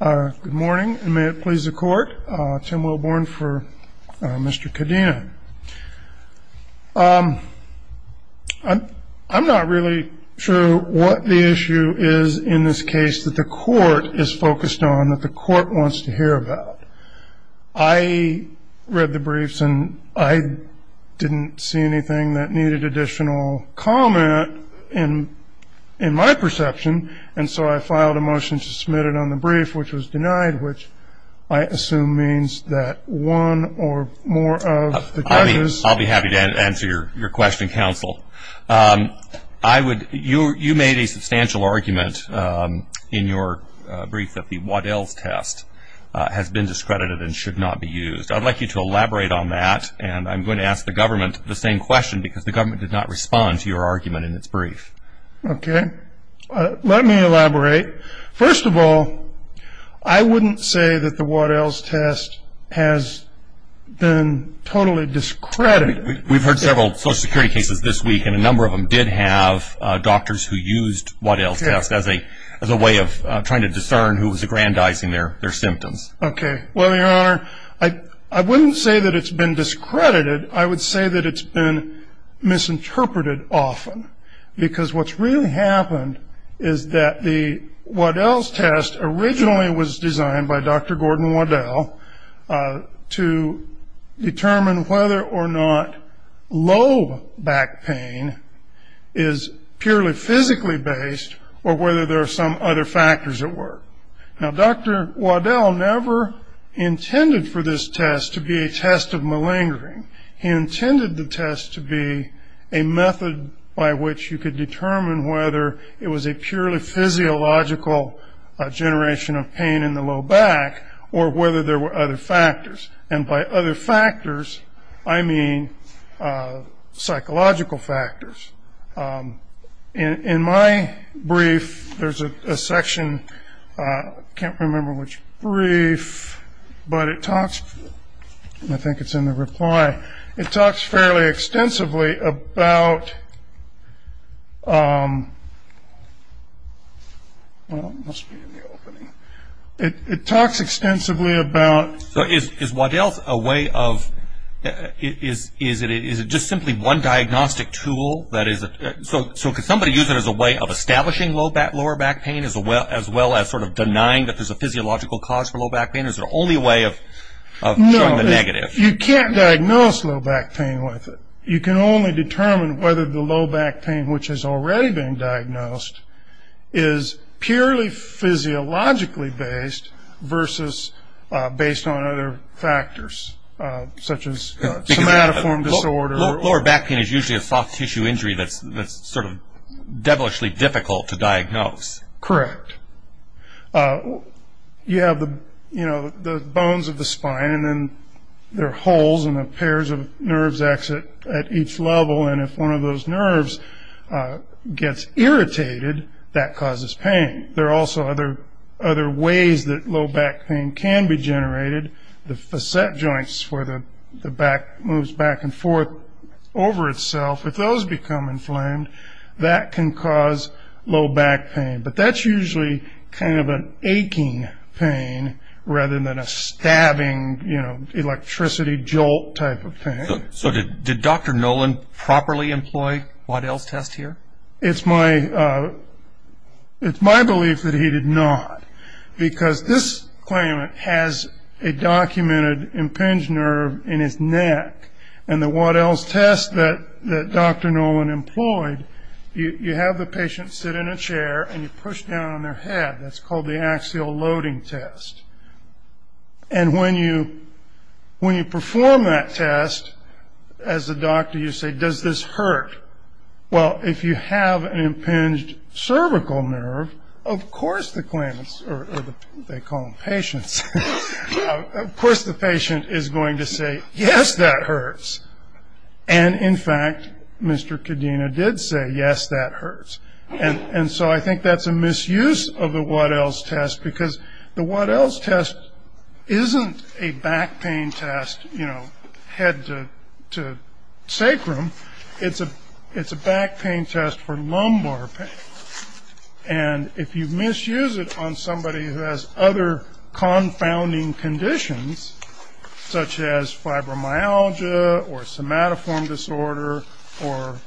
Good morning and may it please the court, Tim Wilborn for Mr. Cadena. I'm not really sure what the issue is in this case that the court is focused on, that the court wants to hear about. I read the briefs and I didn't see anything that needed additional comment in my perception and so I filed a motion to submit it on the brief which was denied which I assume means that one or more of the judges I'll be happy to answer your question, counsel. You made a substantial argument in your brief that the Waddell's test has been discredited and should not be used. I'd like you to elaborate on that and I'm going to ask the government the same question because the government did not respond to your argument in its brief. Okay, let me elaborate. First of all, I wouldn't say that the Waddell's test has been totally discredited. We've heard several social security cases this week and a number of them did have doctors who used Waddell's test as a way of trying to discern who was aggrandizing their symptoms. Okay, well, your honor, I wouldn't say that it's been discredited. I would say that it's been misinterpreted often because what's really happened is that the Waddell's test originally was designed by Dr. Gordon Waddell to determine whether or not lobe back pain is purely physically based or whether there are some other factors at work. Now, Dr. Waddell never intended for this test to be a test of malingering. He intended the test to be a method by which you could determine whether it was a purely physiological generation of pain in the low back or whether there were other factors, and by other factors, I mean psychological factors. In my brief, there's a section, I can't remember which brief, but it talks, I think it's in the reply, it talks fairly extensively about, well, it must be in the opening. It talks extensively about... Is it just simply one diagnostic tool? So could somebody use it as a way of establishing lower back pain as well as sort of denying that there's a physiological cause for low back pain? Is it only a way of showing the negative? No, you can't diagnose low back pain with it. You can only determine whether the low back pain, which has already been diagnosed, is purely physiologically based versus based on other factors, such as somatoform disorder. Lower back pain is usually a soft tissue injury that's sort of devilishly difficult to diagnose. Correct. You have the bones of the spine, and then there are holes, and the pairs of nerves exit at each level, and if one of those nerves gets irritated, that causes pain. There are also other ways that low back pain can be generated. The facet joints, where the back moves back and forth over itself, if those become inflamed, that can cause low back pain. But that's usually kind of an aching pain rather than a stabbing, you know, electricity jolt type of pain. So did Dr. Nolan properly employ Waddell's test here? It's my belief that he did not, because this claimant has a documented impinged nerve in his neck, and the Waddell's test that Dr. Nolan employed, you have the patient sit in a chair and you push down on their head. That's called the axial loading test. And when you perform that test, as a doctor, you say, does this hurt? Well, if you have an impinged cervical nerve, of course the claimants, or they call them patients, of course the patient is going to say, yes, that hurts. And, in fact, Mr. Kadena did say, yes, that hurts. And so I think that's a misuse of the Waddell's test, because the Waddell's test isn't a back pain test, you know, head to sacrum. It's a back pain test for lumbar pain. And if you misuse it on somebody who has other confounding conditions, such as fibromyalgia or somatoform disorder or,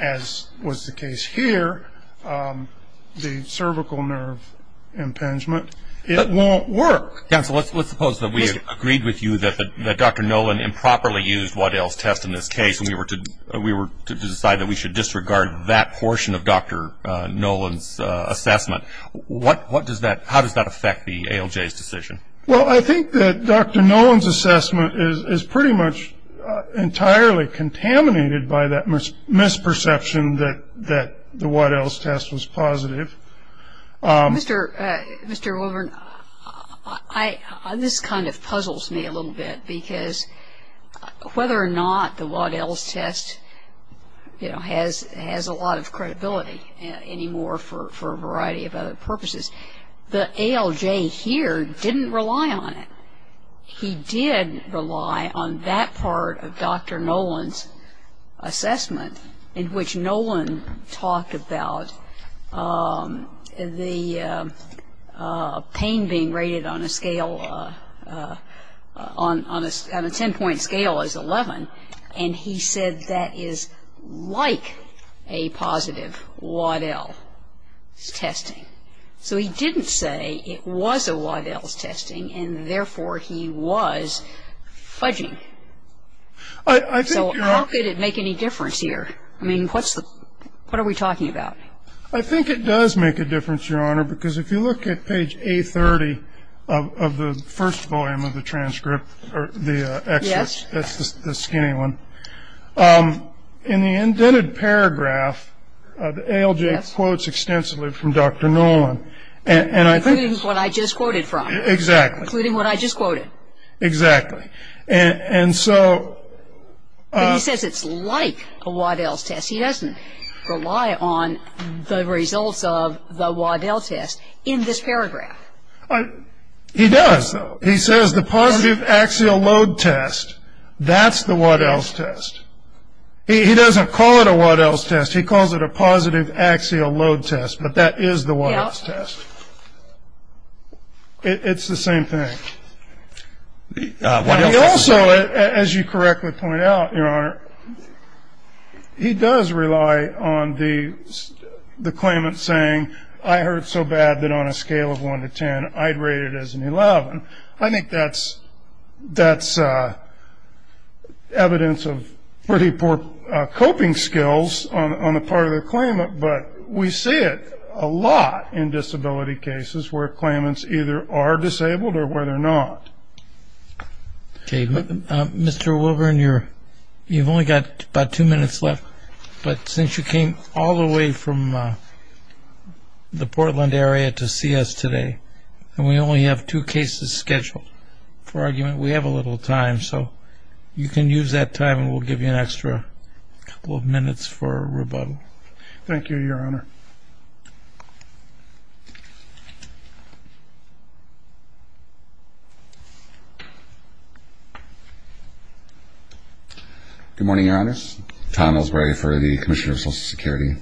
as was the case here, the cervical nerve impingement, it won't work. Let's suppose that we agreed with you that Dr. Nolan improperly used Waddell's test in this case and we were to decide that we should disregard that portion of Dr. Nolan's assessment. How does that affect the ALJ's decision? Well, I think that Dr. Nolan's assessment is pretty much entirely contaminated by that misperception that the Waddell's test was positive. Mr. Wolvern, this kind of puzzles me a little bit, because whether or not the Waddell's test, you know, has a lot of credibility anymore for a variety of other purposes, the ALJ here didn't rely on it. He did rely on that part of Dr. Nolan's assessment in which Nolan talked about the pain being rated on a scale, on a ten-point scale as 11, and he said that is like a positive Waddell's testing. So he didn't say it was a Waddell's testing and, therefore, he was fudging. So how could it make any difference here? I mean, what are we talking about? I think it does make a difference, Your Honor, because if you look at page A30 of the first volume of the transcript or the excerpt, that's the skinny one, in the indented paragraph, ALJ quotes extensively from Dr. Nolan. Including what I just quoted from. Exactly. Including what I just quoted. Exactly. And so... He says it's like a Waddell's test. He doesn't rely on the results of the Waddell's test in this paragraph. He does, though. He says the positive axial load test, that's the Waddell's test. He doesn't call it a Waddell's test. He calls it a positive axial load test, but that is the Waddell's test. It's the same thing. He also, as you correctly point out, Your Honor, he does rely on the claimant saying, I hurt so bad that on a scale of 1 to 10, I'd rate it as an 11. I think that's evidence of pretty poor coping skills on the part of the claimant, but we see it a lot in disability cases where claimants either are disabled or whether or not. Okay. Mr. Wilburn, you've only got about two minutes left, but since you came all the way from the Portland area to see us today and we only have two cases scheduled for argument, we have a little time, so you can use that time and we'll give you an extra couple of minutes for rebuttal. Thank you, Your Honor. Good morning, Your Honors. Tom Ellsbury for the Commissioner of Social Security.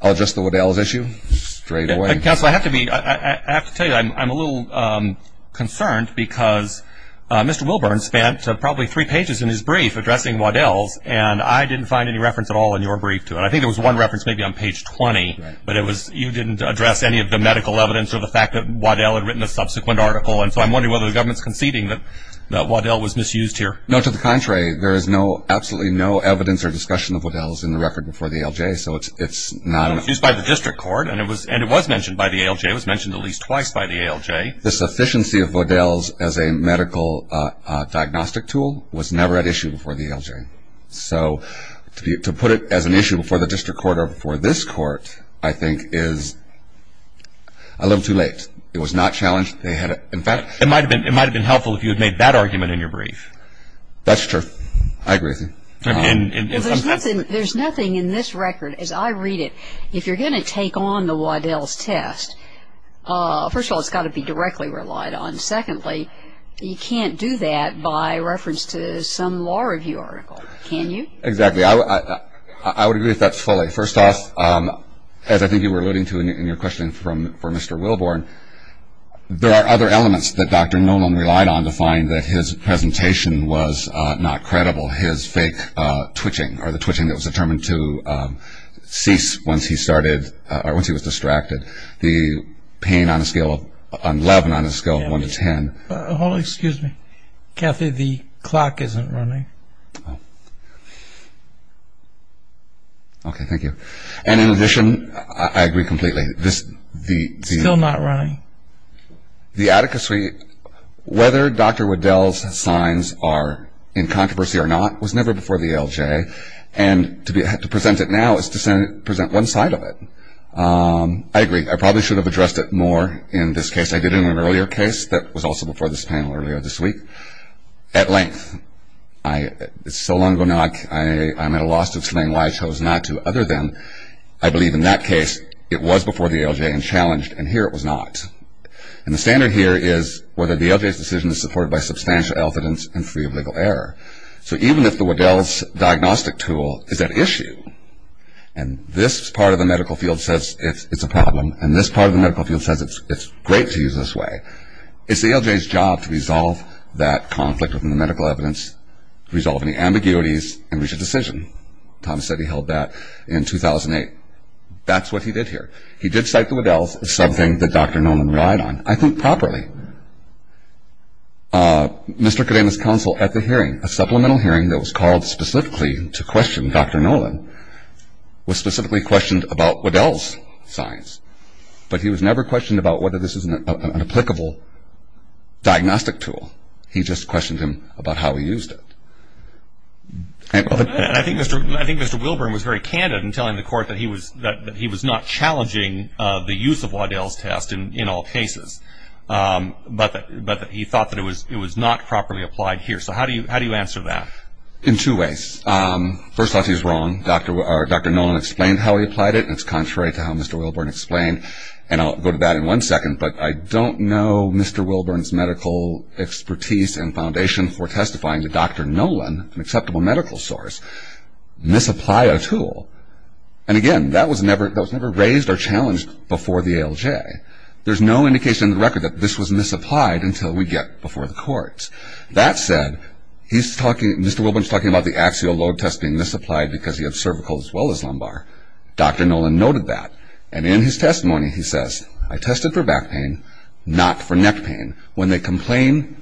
I'll address the Waddell's issue straight away. Counsel, I have to tell you I'm a little concerned because Mr. Wilburn spent probably three pages in his brief addressing Waddell's and I didn't find any reference at all in your brief to it. I think there was one reference maybe on page 20, but you didn't address any of the medical evidence or the fact that Waddell had written a subsequent article, and so I'm wondering whether the government's conceding that Waddell was misused here. No, to the contrary. There is absolutely no evidence or discussion of Waddell's in the record before the ALJ, so it's not an issue. It was used by the district court and it was mentioned by the ALJ. It was mentioned at least twice by the ALJ. The sufficiency of Waddell's as a medical diagnostic tool was never at issue before the ALJ. So to put it as an issue before the district court or before this court, I think, is a little too late. It was not challenged. In fact, it might have been helpful if you had made that argument in your brief. That's true. I agree with you. There's nothing in this record, as I read it, if you're going to take on the Waddell's test, first of all, it's got to be directly relied on. And secondly, you can't do that by reference to some law review article, can you? Exactly. I would agree with that fully. First off, as I think you were alluding to in your question for Mr. Wilborn, there are other elements that Dr. Nolan relied on to find that his presentation was not credible. His fake twitching or the twitching that was determined to cease once he started or once he was distracted, the pain on a scale of 11, on a scale of 1 to 10. Hold on. Excuse me. Kathy, the clock isn't running. Oh. Okay. Thank you. And in addition, I agree completely. It's still not running. The Attica suite, whether Dr. Waddell's signs are in controversy or not, was never before the ALJ. And to present it now is to present one side of it. I agree. I probably should have addressed it more in this case. I did in an earlier case that was also before this panel earlier this week. At length, it's so long ago now I'm at a loss to explain why I chose not to, other than I believe in that case it was before the ALJ and challenged, and here it was not. And the standard here is whether the ALJ's decision is supported by substantial evidence and free of legal error. So even if the Waddell's diagnostic tool is at issue, and this part of the medical field says it's a problem, and this part of the medical field says it's great to use this way, it's the ALJ's job to resolve that conflict within the medical evidence, resolve any ambiguities, and reach a decision. Thomas said he held that in 2008. That's what he did here. He did cite the Waddell's as something that Dr. Nolan relied on. I think properly. Mr. Cadena's counsel at the hearing, a supplemental hearing that was called specifically to question Dr. Nolan, was specifically questioned about Waddell's science. But he was never questioned about whether this was an applicable diagnostic tool. He just questioned him about how he used it. I think Mr. Wilburn was very candid in telling the court that he was not challenging the use of Waddell's test in all cases. But he thought that it was not properly applied here. So how do you answer that? In two ways. First off, he's wrong. Dr. Nolan explained how he applied it, and it's contrary to how Mr. Wilburn explained. And I'll go to that in one second, but I don't know Mr. Wilburn's medical expertise and foundation for testifying to Dr. Nolan, an acceptable medical source, misapply a tool. And again, that was never raised or challenged before the ALJ. There's no indication in the record that this was misapplied until we get before the courts. That said, Mr. Wilburn's talking about the axial load test being misapplied because he had cervical as well as lumbar. Dr. Nolan noted that. And in his testimony he says, I tested for back pain, not for neck pain. When they complain,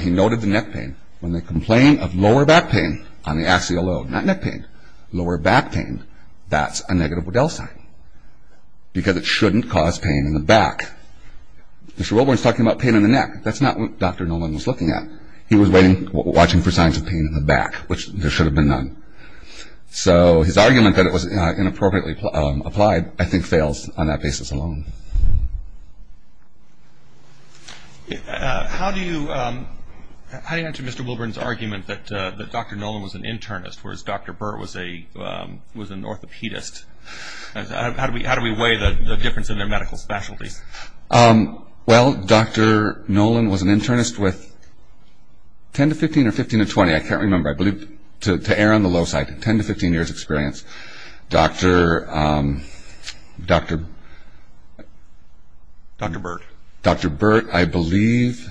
he noted the neck pain, when they complain of lower back pain on the axial load, not neck pain, lower back pain, that's a negative Waddell sign. Because it shouldn't cause pain in the back. Mr. Wilburn's talking about pain in the neck. That's not what Dr. Nolan was looking at. He was watching for signs of pain in the back, which there should have been none. So his argument that it was inappropriately applied, I think, fails on that basis alone. How do you answer Mr. Wilburn's argument that Dr. Nolan was an internist, whereas Dr. Burt was an orthopedist? How do we weigh the difference in their medical specialties? Well, Dr. Nolan was an internist with 10 to 15 or 15 to 20, I can't remember, I believe, to err on the low side, 10 to 15 years experience. Dr. Burt, I believe,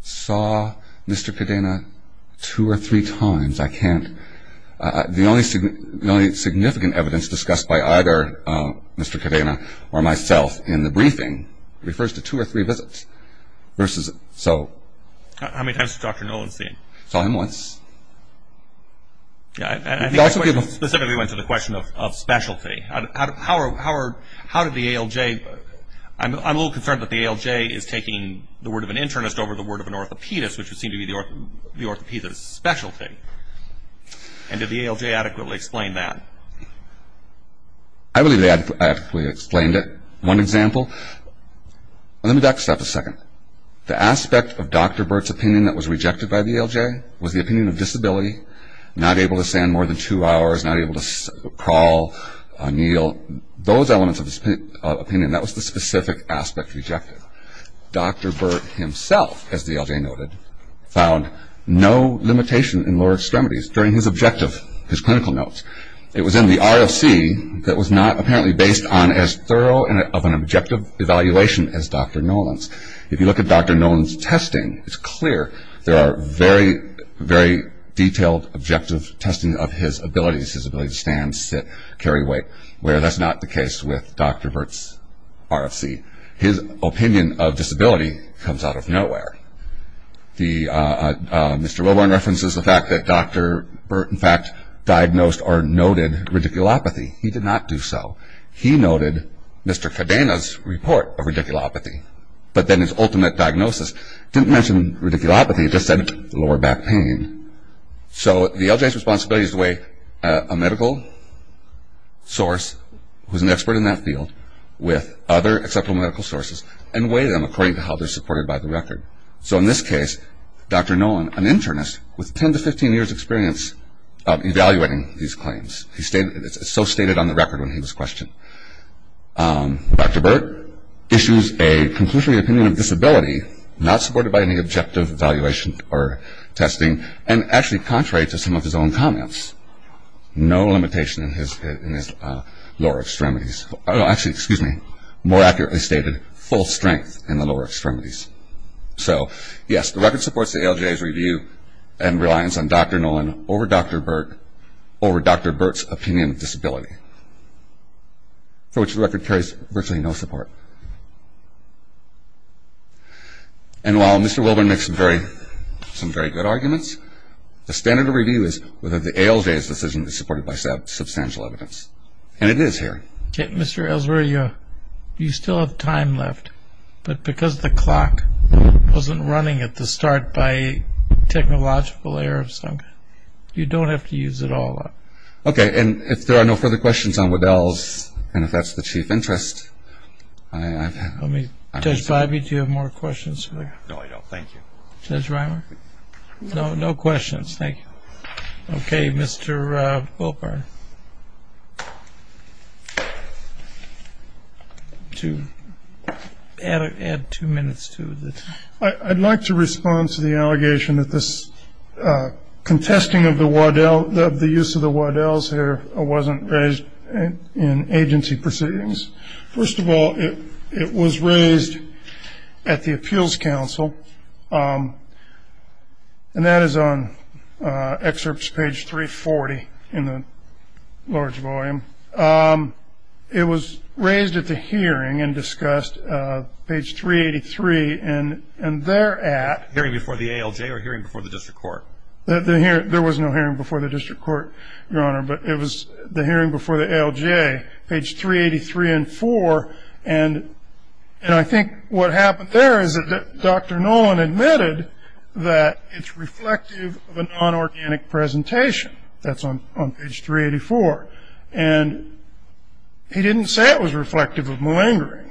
saw Mr. Kadena two or three times. The only significant evidence discussed by either Mr. Kadena or myself in the briefing refers to two or three visits. How many times has Dr. Nolan seen? Saw him once. I think the question specifically went to the question of specialty. How did the ALJ, I'm a little concerned that the ALJ is taking the word of an internist over the word of an orthopedist, which would seem to be the orthopedist's specialty. And did the ALJ adequately explain that? I believe they adequately explained it. One example, let me back this up a second. The aspect of Dr. Burt's opinion that was rejected by the ALJ was the opinion of disability, not able to stand more than two hours, not able to crawl, kneel, those elements of his opinion. That was the specific aspect rejected. Dr. Burt himself, as the ALJ noted, found no limitation in lower extremities during his objective, his clinical notes. It was in the ROC that was not apparently based on as thorough of an objective evaluation as Dr. Nolan's. If you look at Dr. Nolan's testing, it's clear there are very, very detailed objective testing of his abilities, his ability to stand, sit, carry weight, where that's not the case with Dr. Burt's ROC. His opinion of disability comes out of nowhere. Mr. Wilburn references the fact that Dr. Burt in fact diagnosed or noted radiculopathy. He did not do so. He noted Mr. Kadena's report of radiculopathy. But then his ultimate diagnosis didn't mention radiculopathy. It just said lower back pain. So the ALJ's responsibility is to weigh a medical source who's an expert in that field with other acceptable medical sources and weigh them according to how they're supported by the record. So in this case, Dr. Nolan, an internist with 10 to 15 years' experience evaluating these claims, it's so stated on the record when he was questioned. Dr. Burt issues a conclusionary opinion of disability, not supported by any objective evaluation or testing, and actually contrary to some of his own comments. No limitation in his lower extremities. Actually, excuse me, more accurately stated, full strength in the lower extremities. So, yes, the record supports the ALJ's review and reliance on Dr. Nolan over Dr. Burt's opinion of disability, for which the record carries virtually no support. And while Mr. Wilburn makes some very good arguments, the standard of review is whether the ALJ's decision is supported by substantial evidence. And it is here. Mr. Ellsworthy, you still have time left, but because the clock wasn't running at the start by technological error of some kind, you don't have to use it all up. Okay. And if there are no further questions on Waddell's, and if that's the chief interest, I've had... Let me... Judge Biby, do you have more questions? No, I don't. Thank you. Judge Reimer? No. No questions. Thank you. Okay, Mr. Wilburn. To add two minutes to the... I'd like to respond to the allegation that this contesting of the Waddell, the use of the Waddells here wasn't raised in agency proceedings. First of all, it was raised at the Appeals Council, and that is on excerpts page 340 in the large volume. It was raised at the hearing and discussed, page 383, and thereat... Hearing before the ALJ or hearing before the district court? There was no hearing before the district court, Your Honor, but it was the hearing before the ALJ, page 383 and 4, and I think what happened there is that Dr. Nolan admitted that it's reflective of a non-organic presentation. That's on page 384, and he didn't say it was reflective of malingering,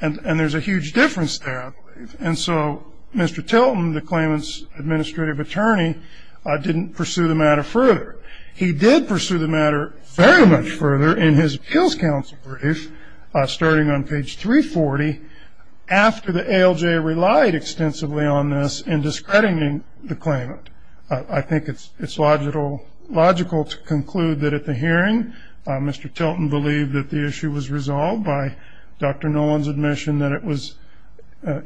and there's a huge difference there, I believe, and so Mr. Tilton, the claimant's administrative attorney, didn't pursue the matter further. He did pursue the matter very much further in his Appeals Council brief, starting on page 340, after the ALJ relied extensively on this in discrediting the claimant. I think it's logical to conclude that at the hearing, Mr. Tilton believed that the issue was resolved by Dr. Nolan's admission that it was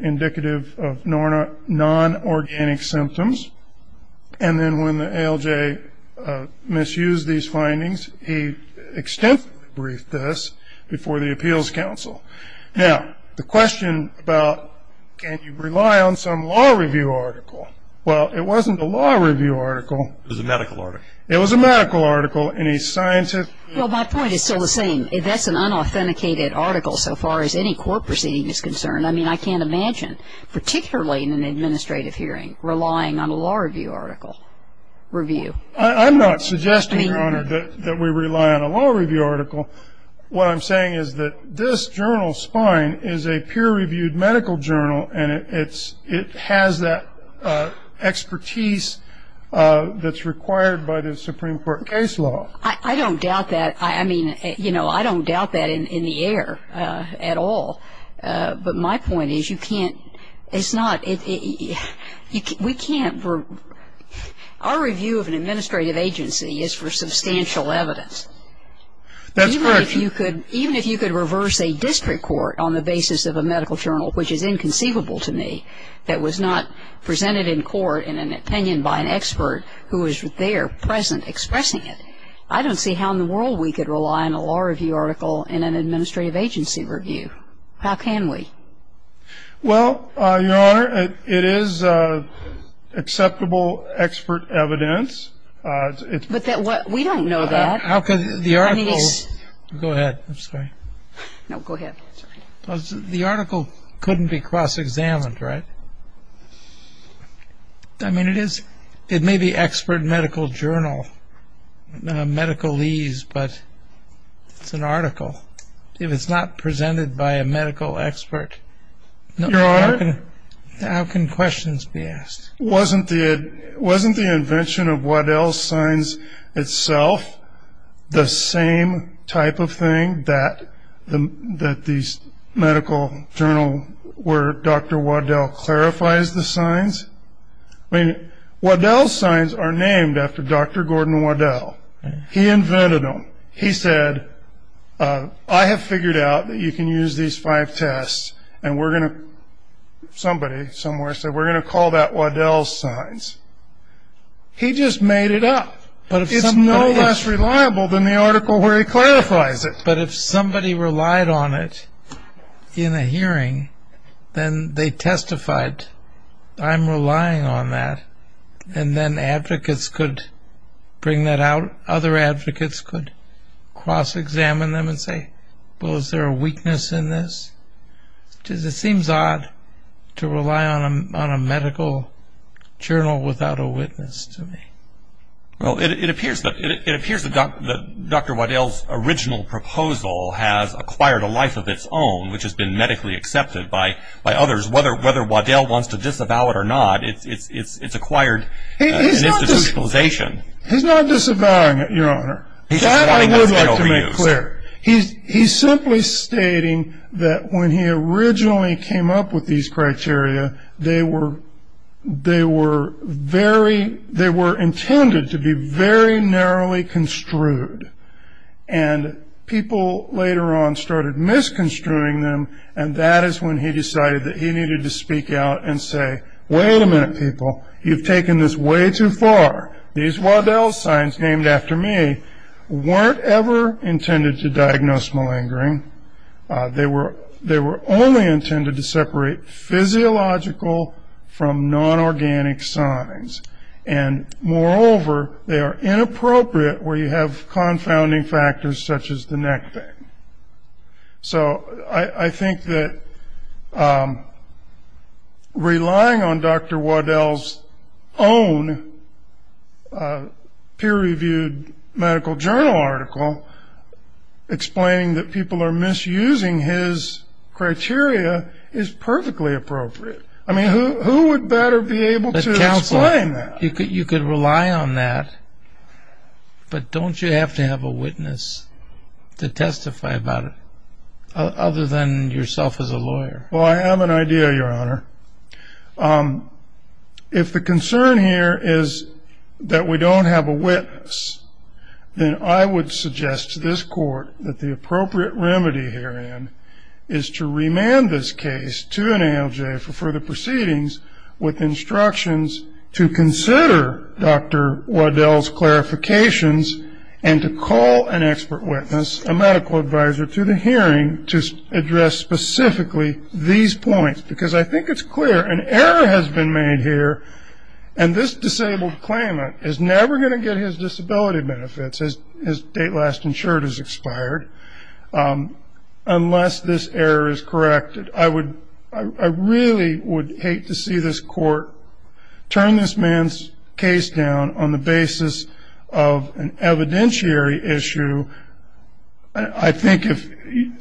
indicative of non-organic symptoms, and then when the ALJ misused these findings, he extensively briefed us before the Appeals Council. Now, the question about can you rely on some law review article, well, it wasn't a law review article. It was a medical article. It was a medical article, and he scientifically... Well, my point is still the same. That's an unauthenticated article so far as any court proceeding is concerned. I mean, I can't imagine, particularly in an administrative hearing, relying on a law review article review. I'm not suggesting, Your Honor, that we rely on a law review article. What I'm saying is that this journal, Spine, is a peer-reviewed medical journal, and it has that expertise that's required by the Supreme Court case law. I don't doubt that. I mean, you know, I don't doubt that in the air at all. But my point is you can't, it's not, we can't, our review of an administrative agency is for substantial evidence. That's correct. Even if you could reverse a district court on the basis of a medical journal, which is inconceivable to me that was not presented in court in an opinion by an expert who was there present expressing it, I don't see how in the world we could rely on a law review article in an administrative agency review. How can we? Well, Your Honor, it is acceptable expert evidence. But we don't know that. How can the article, go ahead. I'm sorry. No, go ahead. The article couldn't be cross-examined, right? I mean, it is, it may be expert medical journal, medicalese, but it's an article. If it's not presented by a medical expert. Your Honor. How can questions be asked? Wasn't the invention of Waddell's signs itself the same type of thing that these medical journal, where Dr. Waddell clarifies the signs? I mean, Waddell's signs are named after Dr. Gordon Waddell. He invented them. He said, I have figured out that you can use these five tests, and we're going to, somebody somewhere said, we're going to call that Waddell's signs. He just made it up. It's no less reliable than the article where he clarifies it. But if somebody relied on it in a hearing, then they testified, I'm relying on that. And then advocates could bring that out. Other advocates could cross-examine them and say, well, is there a weakness in this? It seems odd to rely on a medical journal without a witness to me. Well, it appears that Dr. Waddell's original proposal has acquired a life of its own, which has been medically accepted by others. Whether Waddell wants to disavow it or not, it's acquired an institutionalization. He's not disavowing it, Your Honor. That I would like to make clear. He's simply stating that when he originally came up with these criteria, they were intended to be very narrowly construed. And people later on started misconstruing them, and that is when he decided that he needed to speak out and say, wait a minute, people. You've taken this way too far. These Waddell's signs named after me weren't ever intended to diagnose malingering. They were only intended to separate physiological from non-organic signs. And moreover, they are inappropriate where you have confounding factors such as the neck thing. So I think that relying on Dr. Waddell's own peer-reviewed medical journal article, explaining that people are misusing his criteria is perfectly appropriate. I mean, who would better be able to explain that? You could rely on that, but don't you have to have a witness to testify about it, other than yourself as a lawyer? If the concern here is that we don't have a witness, then I would suggest to this court that the appropriate remedy herein is to remand this case to an ALJ for further proceedings with instructions to consider Dr. Waddell's clarifications and to call an expert witness, a medical advisor, to the hearing to address specifically these points. Because I think it's clear an error has been made here, and this disabled claimant is never going to get his disability benefits, his date last insured has expired, unless this error is corrected. I really would hate to see this court turn this man's case down on the basis of an evidentiary issue. I think if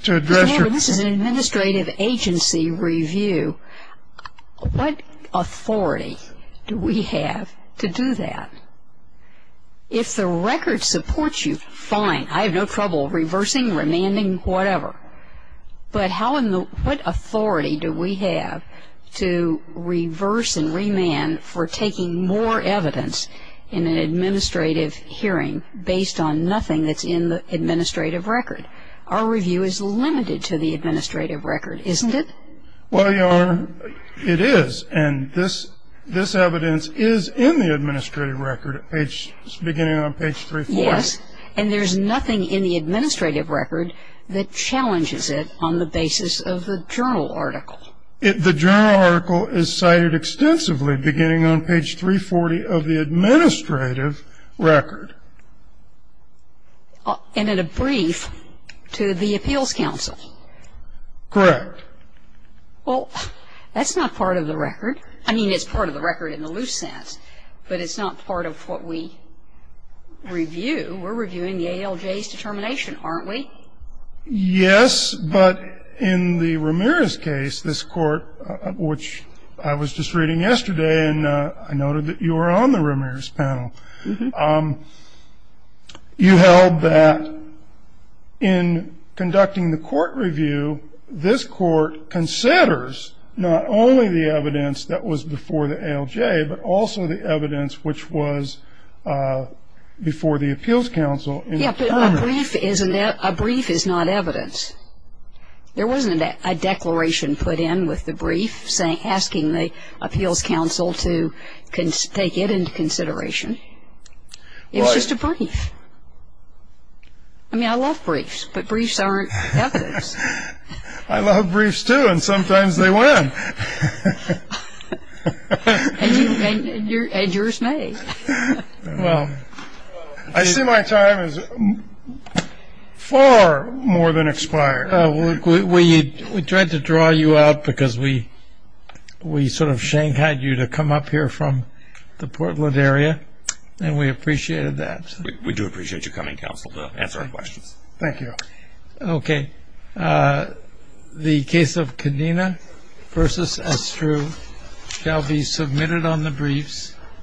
to address your... However, this is an administrative agency review. What authority do we have to do that? If the record supports you, fine. I have no trouble reversing, remanding, whatever. But what authority do we have to reverse and remand for taking more evidence in an administrative hearing based on nothing that's in the administrative record? Our review is limited to the administrative record, isn't it? Well, Your Honor, it is. And this evidence is in the administrative record beginning on page 340. Yes. And there's nothing in the administrative record that challenges it on the basis of the journal article. The journal article is cited extensively beginning on page 340 of the administrative record. And in a brief to the appeals counsel. Correct. Well, that's not part of the record. I mean, it's part of the record in the loose sense, but it's not part of what we review. We're reviewing the ALJ's determination, aren't we? Yes. But in the Ramirez case, this court, which I was just reading yesterday, and I noted that you were on the Ramirez panel, you held that in conducting the court review, this court considers not only the evidence that was before the ALJ, but also the evidence which was before the appeals counsel. Yes, but a brief is not evidence. There wasn't a declaration put in with the brief asking the appeals counsel to take it into consideration. It was just a brief. I mean, I love briefs, but briefs aren't evidence. I love briefs, too, and sometimes they win. And yours may. Well, I see my time has far more than expired. We tried to draw you out because we sort of shanked you to come up here from the Portland area, and we appreciated that. We do appreciate you coming, counsel, to answer our questions. Thank you. Okay. The case of Cadena v. Estrue shall be submitted on the briefs.